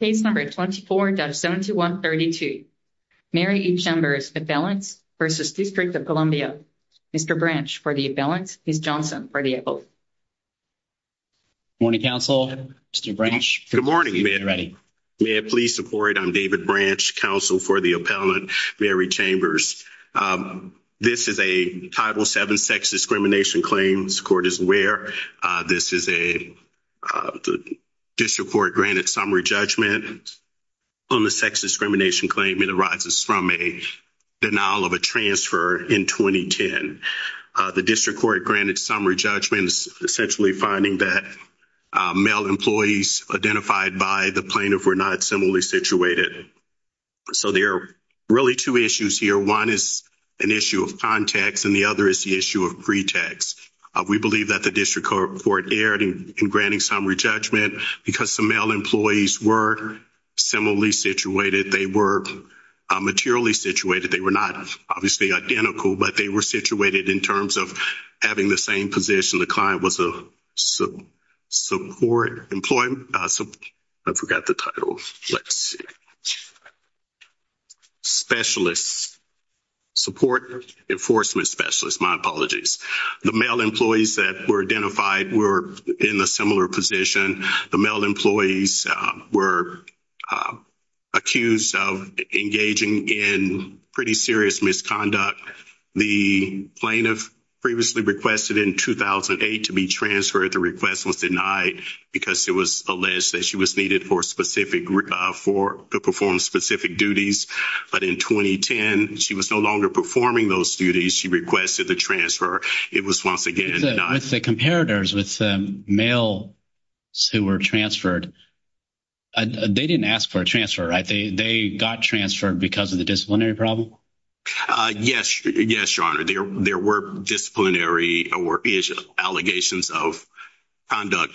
Case number 24-7132, Mary E. Chambers, Appellants v. District of Columbia. Mr. Branch for the Appellants, Ms. Johnson for the Appellants. Good morning, counsel. Mr. Branch, if you're ready. May I please support? I'm David Branch, counsel for the Appellant, Mary Chambers. This is a Title VII sex discrimination claim, the court is aware. This is a District Court-granted summary judgment on the sex discrimination claim. It arises from a denial of a transfer in 2010. The District Court-granted summary judgment is essentially finding that male employees identified by the plaintiff were not similarly situated. So there are really two issues here. One is an issue of context and the other is the issue of pretext. We believe that the District Court erred in granting summary judgment because some male employees were similarly situated. They were materially situated. They were not obviously identical, but they were situated in terms of having the same position. The client was a support employment... I forgot the title. Let's see. Specialist, support enforcement specialist. My apologies. The male employees that were identified were in a similar position. The male employees were accused of engaging in pretty serious misconduct. The plaintiff previously requested in 2008 to be transferred. The request was denied because it was alleged that she was needed to perform specific duties. But in 2010, she was no longer performing those duties. She requested the transfer. It was once again denied. With the comparators, with the male who were transferred, they didn't ask for a transfer, right? They got transferred because of the disciplinary problem? Yes. Yes, Your Honor. There were disciplinary allegations of conduct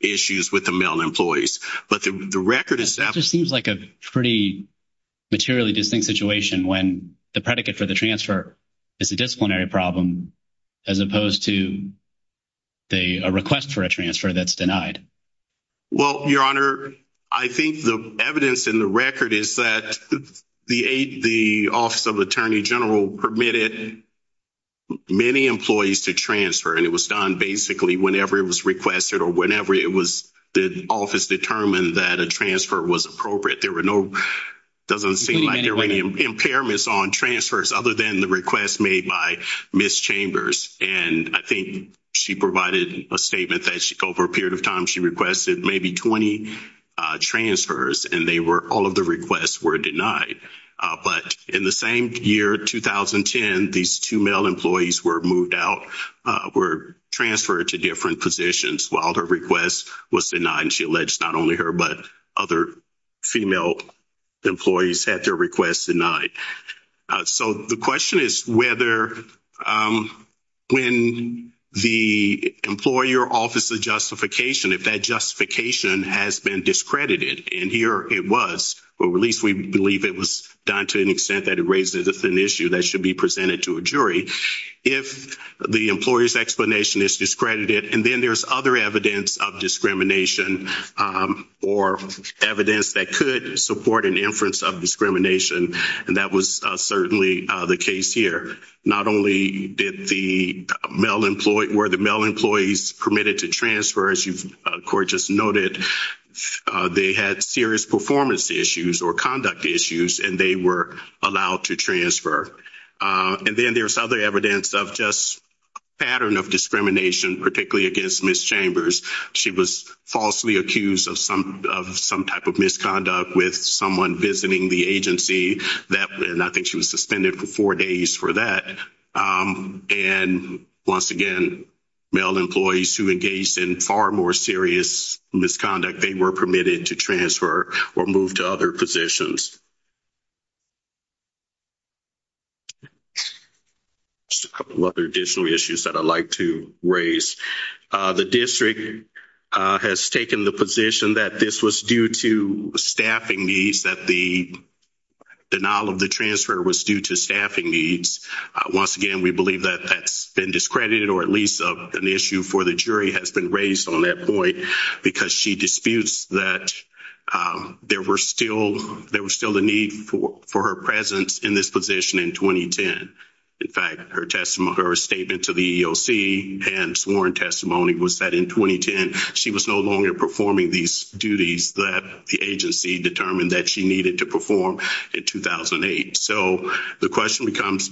issues with the male employees. It seems like a pretty materially distinct situation when the predicate for the transfer is a disciplinary problem as opposed to a request for a transfer that's denied. Well, Your Honor, I think the evidence in the record is that the Office of Attorney General permitted many employees to transfer. And it was done basically whenever it was requested or whenever the office determined that a transfer was appropriate. There were no—it doesn't seem like there were any impairments on transfers other than the request made by Ms. Chambers. And I think she provided a statement that over a period of time, she requested maybe 20 transfers, and all of the requests were denied. But in the same year, 2010, these two male employees were moved out, were transferred to different positions while her request was denied. And she alleged not only her but other female employees had their requests denied. So the question is whether when the employer Office of Justification, if that justification has been discredited, and here it was, or at least we believe it was done to an extent that it raises an issue that should be presented to a jury, if the employer's explanation is discredited and then there's other evidence of discrimination or evidence that could support an inference of discrimination, and that was certainly the case here. Not only did the male employee—were the male employees permitted to transfer, as you, Court, just noted, they had serious performance issues or conduct issues, and they were allowed to transfer. And then there's other evidence of just a pattern of discrimination, particularly against Ms. Chambers. She was falsely accused of some type of misconduct with someone visiting the agency. And I think she was suspended for four days for that. And once again, male employees who engaged in far more serious misconduct, they were permitted to transfer or move to other positions. Just a couple of other additional issues that I'd like to raise. The district has taken the position that this was due to staffing needs, that the denial of the transfer was due to staffing needs. Once again, we believe that that's been discredited or at least an issue for the jury has been raised on that point because she disputes that there was still the need for her presence in this position in 2010. In fact, her statement to the EEOC and sworn testimony was that in 2010, she was no longer performing these duties that the agency determined that she needed to perform in 2008. So the question becomes,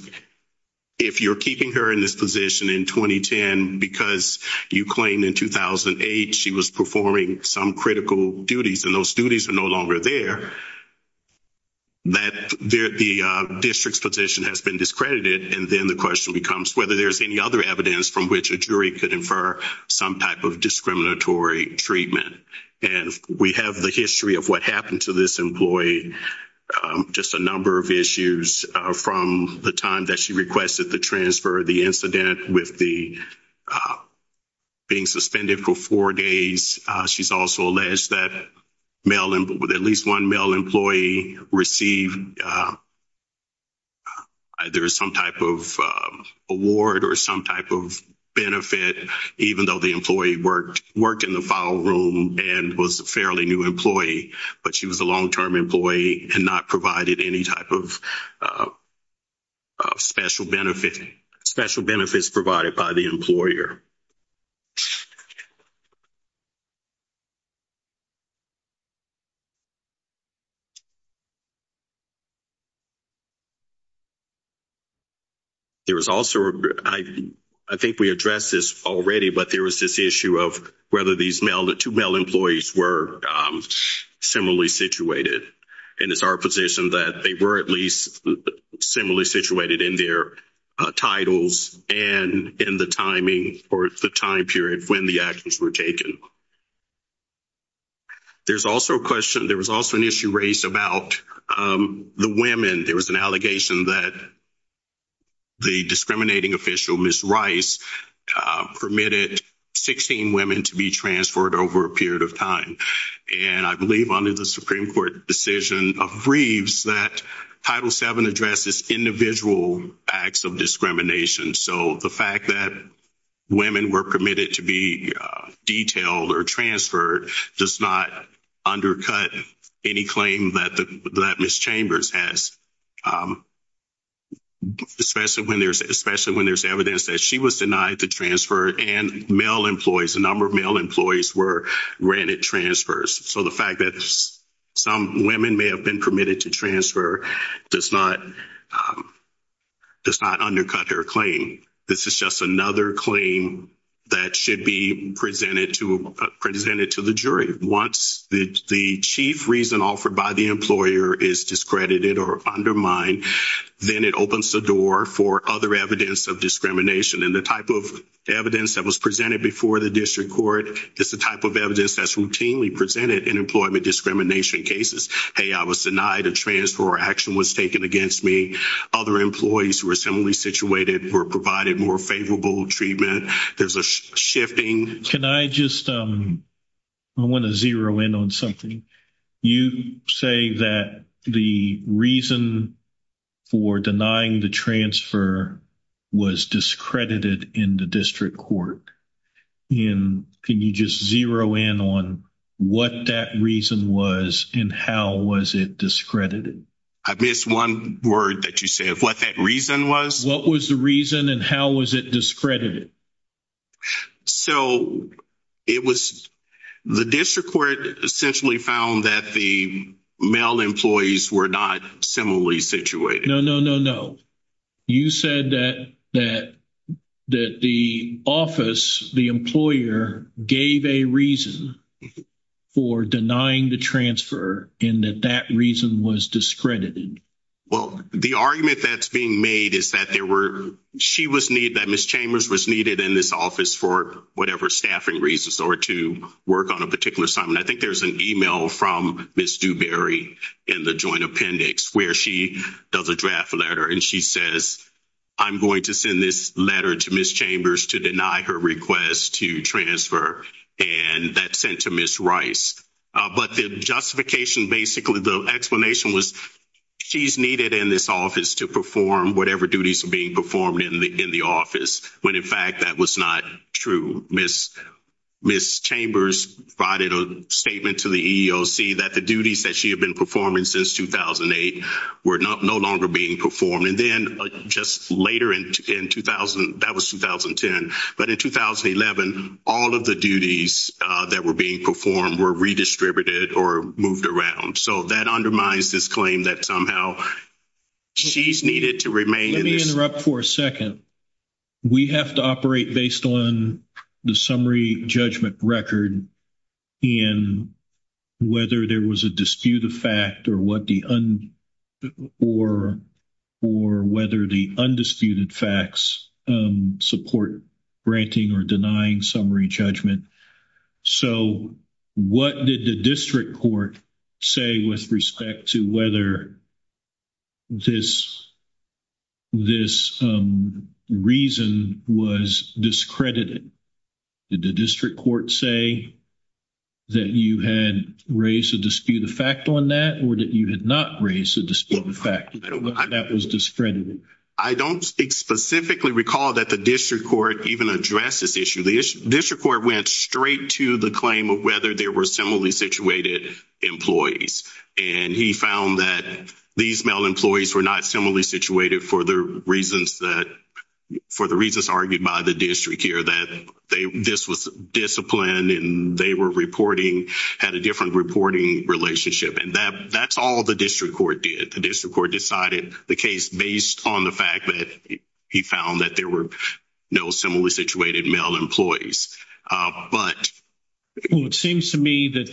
if you're keeping her in this position in 2010 because you claim in 2008 she was performing some critical duties and those duties are no longer there, that the district's position has been discredited. And then the question becomes whether there's any other evidence from which a jury could infer some type of discriminatory treatment. And we have the history of what happened to this employee. Just a number of issues from the time that she requested the transfer, the incident with the being suspended for four days. She's also alleged that at least one male employee received either some type of award or some type of benefit even though the employee worked in the file room and was a fairly new employee. But she was a long-term employee and not provided any type of special benefits provided by the employer. There was also, I think we addressed this already, but there was this issue of whether these two male employees were similarly situated. And it's our position that they were at least similarly situated in their titles and in the timing or the time period when the actions were taken. There's also a question, there was also an issue raised about the women. There was an allegation that the discriminating official, Ms. Rice, permitted 16 women to be transferred over a period of time. And I believe under the Supreme Court decision of Reeves that Title VII addresses individual acts of discrimination. So the fact that women were permitted to be detailed or transferred does not undercut any claim that Ms. Chambers has. Especially when there's evidence that she was denied the transfer and male employees, a number of male employees were granted transfers. So the fact that some women may have been permitted to transfer does not undercut her claim. This is just another claim that should be presented to the jury. Once the chief reason offered by the employer is discredited or undermined, then it opens the door for other evidence of discrimination. And the type of evidence that was presented before the district court is the type of evidence that's routinely presented in employment discrimination cases. Hey, I was denied a transfer or action was taken against me. Other employees who were similarly situated were provided more favorable treatment. There's a shifting. Can I just, I want to zero in on something. You say that the reason for denying the transfer was discredited in the district court. Can you just zero in on what that reason was and how was it discredited? I missed one word that you said. What that reason was? What was the reason and how was it discredited? So, it was, the district court essentially found that the male employees were not similarly situated. No, no, no, no. You said that the office, the employer, gave a reason for denying the transfer and that that reason was discredited. Well, the argument that's being made is that there were, she was needed, that Ms. Chambers was needed in this office for whatever staffing reasons or to work on a particular assignment. I think there's an email from Ms. Dewberry in the joint appendix where she does a draft letter and she says, I'm going to send this letter to Ms. Chambers to deny her request to transfer and that's sent to Ms. Rice. But the justification, basically, the explanation was she's needed in this office to perform whatever duties are being performed in the office. When, in fact, that was not true. Ms. Chambers provided a statement to the EEOC that the duties that she had been performing since 2008 were no longer being performed. And then, just later in 2000, that was 2010. But in 2011, all of the duties that were being performed were redistributed or moved around. So that undermines this claim that somehow she's needed to remain in this. Let me interrupt for a second. We have to operate based on the summary judgment record and whether there was a dispute of fact or whether the undisputed facts support granting or denying summary judgment. So, what did the district court say with respect to whether this reason was discredited? Did the district court say that you had raised a dispute of fact on that or that you had not raised a dispute of fact that was discredited? I don't specifically recall that the district court even addressed this issue. The district court went straight to the claim of whether there were similarly situated employees. And he found that these male employees were not similarly situated for the reasons argued by the district here, that this was disciplined and they had a different reporting relationship. And that's all the district court did. The district court decided the case based on the fact that he found that there were no similarly situated male employees. It seems to me that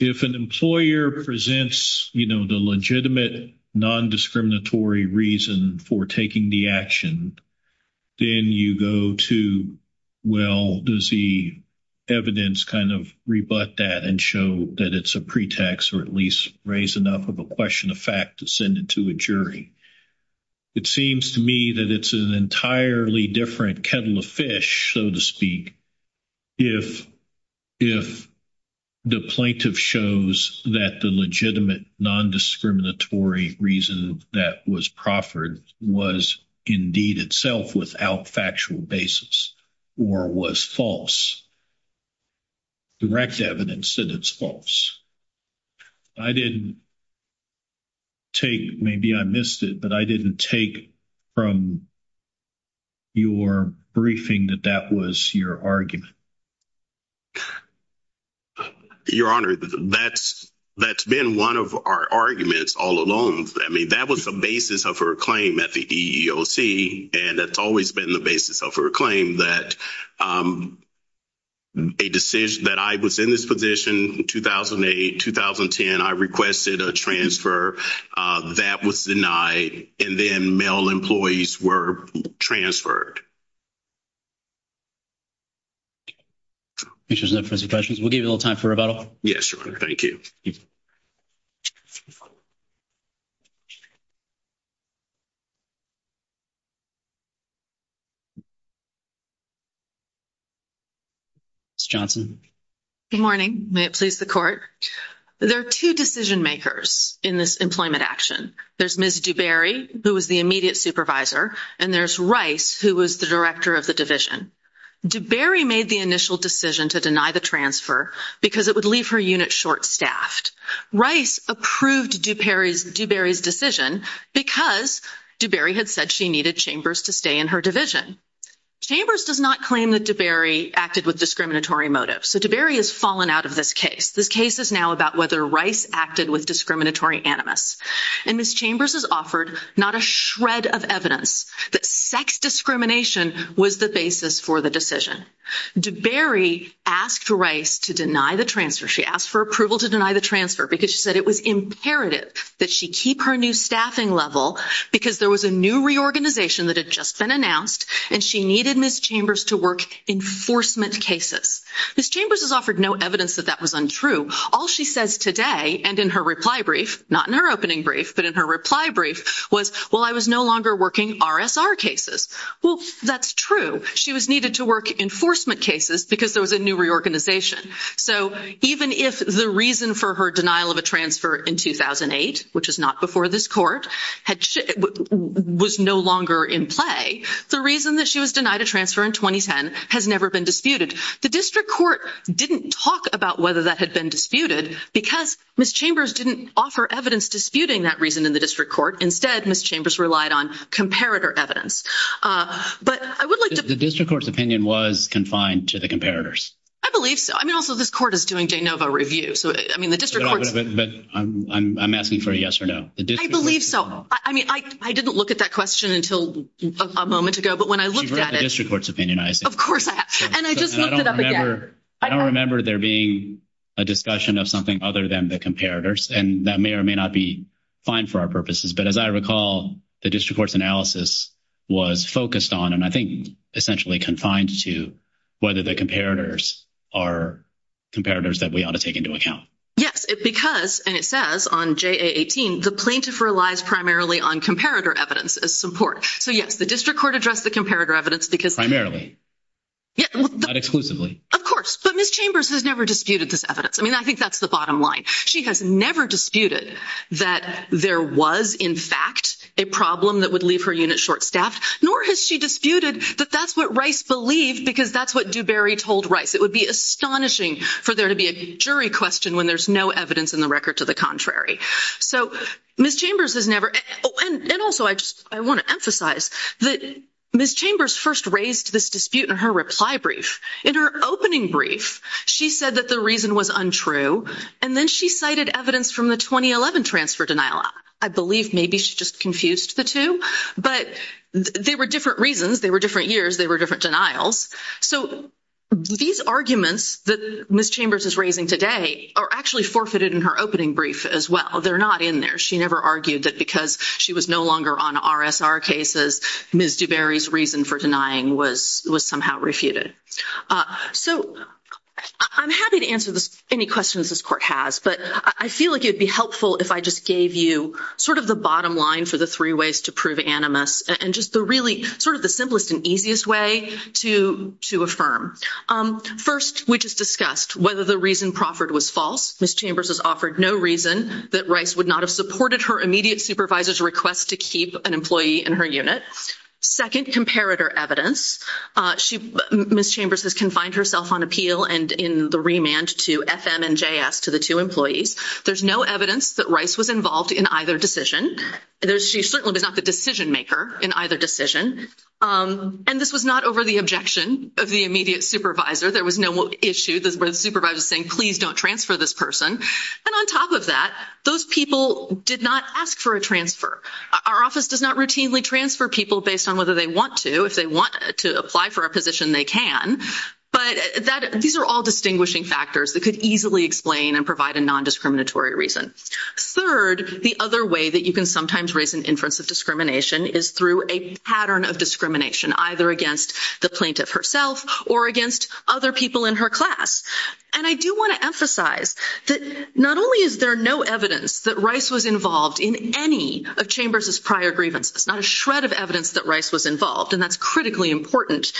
if an employer presents the legitimate non-discriminatory reason for taking the action, then you go to, well, does the evidence kind of rebut that and show that it's a pretext or at least raise enough of a question of fact to send it to a jury? It seems to me that it's an entirely different kettle of fish, so to speak, if the plaintiff shows that the legitimate non-discriminatory reason that was proffered was indeed itself without factual basis or was false, direct evidence that it's false. I didn't take, maybe I missed it, but I didn't take from your briefing that that was your argument. Your Honor, that's been one of our arguments all along. I mean, that was the basis of her claim at the EEOC and that's always been the basis of her claim that a decision, that I was in this position in 2008, 2010, I requested a transfer. That was denied and then male employees were transferred. We'll give you a little time for rebuttal. Yes, Your Honor. Thank you. Ms. Johnson. Good morning. May it please the Court. There are two decision-makers in this employment action. There's Ms. Dubarry, who was the immediate supervisor, and there's Rice, who was the director of the division. Dubarry made the initial decision to deny the transfer because it would leave her unit short-staffed. Rice approved Dubarry's decision because Dubarry had said she needed Chambers to stay in her division. Chambers does not claim that Dubarry acted with discriminatory motives. So Dubarry has fallen out of this case. This case is now about whether Rice acted with discriminatory animus. And Ms. Chambers has offered not a shred of evidence that sex discrimination was the basis for the decision. Dubarry asked Rice to deny the transfer. She asked for approval to deny the transfer because she said it was imperative that she keep her new staffing level because there was a new reorganization that had just been announced and she needed Ms. Chambers to work enforcement cases. Ms. Chambers has offered no evidence that that was untrue. All she says today and in her reply brief, not in her opening brief, but in her reply brief was, well, I was no longer working RSR cases. Well, that's true. She was needed to work enforcement cases because there was a new reorganization. So even if the reason for her denial of a transfer in 2008, which is not before this court, was no longer in play, the reason that she was denied a transfer in 2010 has never been disputed. The district court didn't talk about whether that had been disputed because Ms. Chambers didn't offer evidence disputing that reason in the district court. Instead, Ms. Chambers relied on comparator evidence. But I would like to... The district court's opinion was confined to the comparators. I believe so. I mean, also, this court is doing de novo reviews. But I'm asking for a yes or no. I believe so. I mean, I didn't look at that question until a moment ago, but when I looked at it... You've read the district court's opinion, I assume. Of course I have. And I just looked it up again. I don't remember there being a discussion of something other than the comparators. And that may or may not be fine for our purposes. But as I recall, the district court's analysis was focused on and I think essentially confined to whether the comparators are comparators that we ought to take into account. Yes, because, and it says on JA 18, the plaintiff relies primarily on comparator evidence as support. So yes, the district court addressed the comparator evidence because... Primarily. Not exclusively. Of course. But Ms. Chambers has never disputed this evidence. I mean, I think that's the bottom line. She has never disputed that there was, in fact, a problem that would leave her unit short-staffed. Nor has she disputed that that's what Rice believed because that's what Dewberry told Rice. It would be astonishing for there to be a jury question when there's no evidence in the record to the contrary. So Ms. Chambers has never... Oh, and also I just want to emphasize that Ms. Chambers first raised this dispute in her reply brief. In her opening brief, she said that the reason was untrue and then she cited evidence from the 2011 transfer denial. I believe maybe she just confused the two. But they were different reasons, they were different years, they were different denials. So these arguments that Ms. Chambers is raising today are actually forfeited in her opening brief as well. They're not in there. She never argued that because she was no longer on RSR cases, Ms. Dewberry's reason for denying was somehow refuted. So I'm happy to answer any questions this court has, but I feel like it would be helpful if I just gave you sort of the bottom line for the three ways to prove animus and just really sort of the simplest and easiest way to affirm. First, we just discussed whether the reason proffered was false. Ms. Chambers has offered no reason that Rice would not have supported her immediate supervisor's request to keep an employee in her unit. Second, comparator evidence. Ms. Chambers has confined herself on appeal and in the remand to FM and JS, to the two employees. There's no evidence that Rice was involved in either decision. She certainly was not the decision maker in either decision. And this was not over the objection of the immediate supervisor. There was no issue where the supervisor was saying, please don't transfer this person. And on top of that, those people did not ask for a transfer. Our office does not routinely transfer people based on whether they want to. If they want to apply for a position, they can. But these are all distinguishing factors that could easily explain and provide a nondiscriminatory reason. Third, the other way that you can sometimes raise an inference of discrimination is through a pattern of discrimination, either against the plaintiff herself or against other people in her class. And I do want to emphasize that not only is there no evidence that Rice was involved in any of Chambers' prior grievances, not a shred of evidence that Rice was involved, and that's critically important,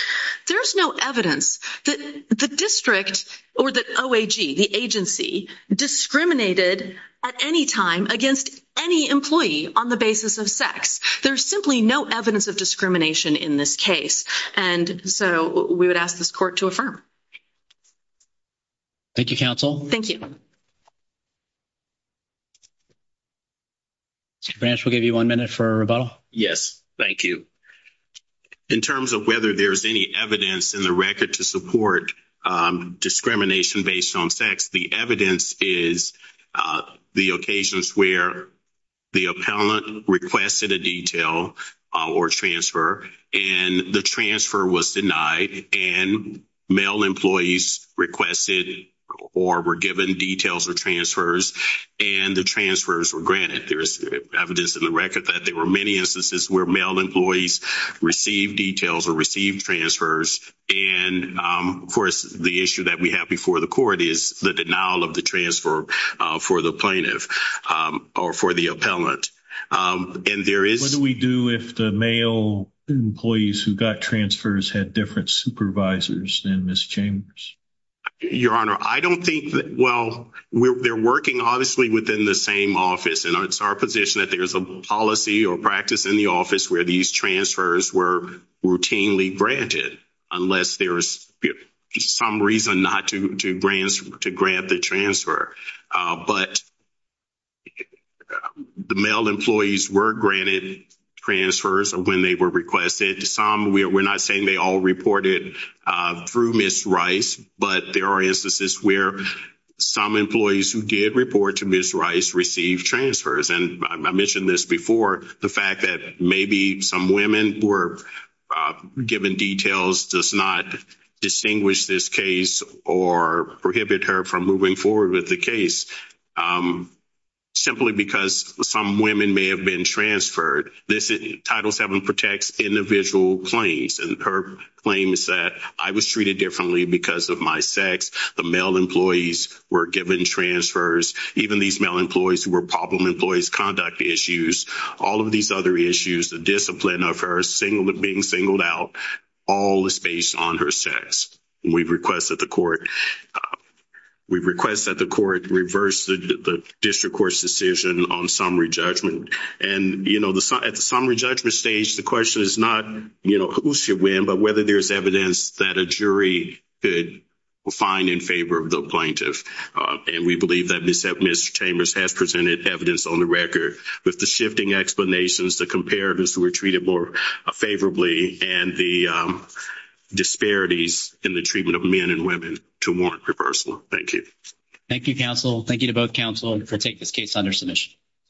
there's no evidence that the district or the OAG, the agency, discriminated at any time against any employee on the basis of sex. There's simply no evidence of discrimination in this case. And so we would ask this court to affirm. Thank you, counsel. Thank you. Mr. Branch, we'll give you one minute for a rebuttal. Yes, thank you. In terms of whether there's any evidence in the record to support discrimination based on sex, the evidence is the occasions where the appellant requested a detail or transfer and the transfer was denied and male employees requested or were given details or transfers and the transfers were granted. There's evidence in the record that there were many instances where male employees received details or received transfers and, of course, the issue that we have before the court is the denial of the transfer for the plaintiff or for the appellant. And there is... What do we do if the male employees who got transfers had different supervisors than Ms. Chambers? Your Honor, I don't think that... Well, they're working obviously within the same office and it's our position that there's a policy or practice in the office where these transfers were routinely granted unless there's some reason not to grant the transfer. But the male employees were granted transfers when they were requested. Some, we're not saying they all reported through Ms. Rice, but there are instances where some employees who did report to Ms. Rice received transfers and I mentioned this before, the fact that maybe some women were given details does not distinguish this case or prohibit her from moving forward with the case simply because some women may have been transferred. Title VII protects individual claims and her claim is that I was treated differently because of my sex, the male employees were given transfers, even these male employees who were problem employees conduct issues, all of these other issues, the discipline of her being singled out, all is based on her sex. We request that the court reverse the district court's decision on summary judgment and at the summary judgment stage, the question is not who should win but whether there's evidence that a jury could find in favor of the plaintiff. And we believe that Ms. Chambers has presented evidence on the record with the shifting explanations to compare those who were treated more favorably and the disparities in the treatment of men and women to warrant reversal. Thank you. Thank you, counsel. Thank you to both counsel for taking this case under submission.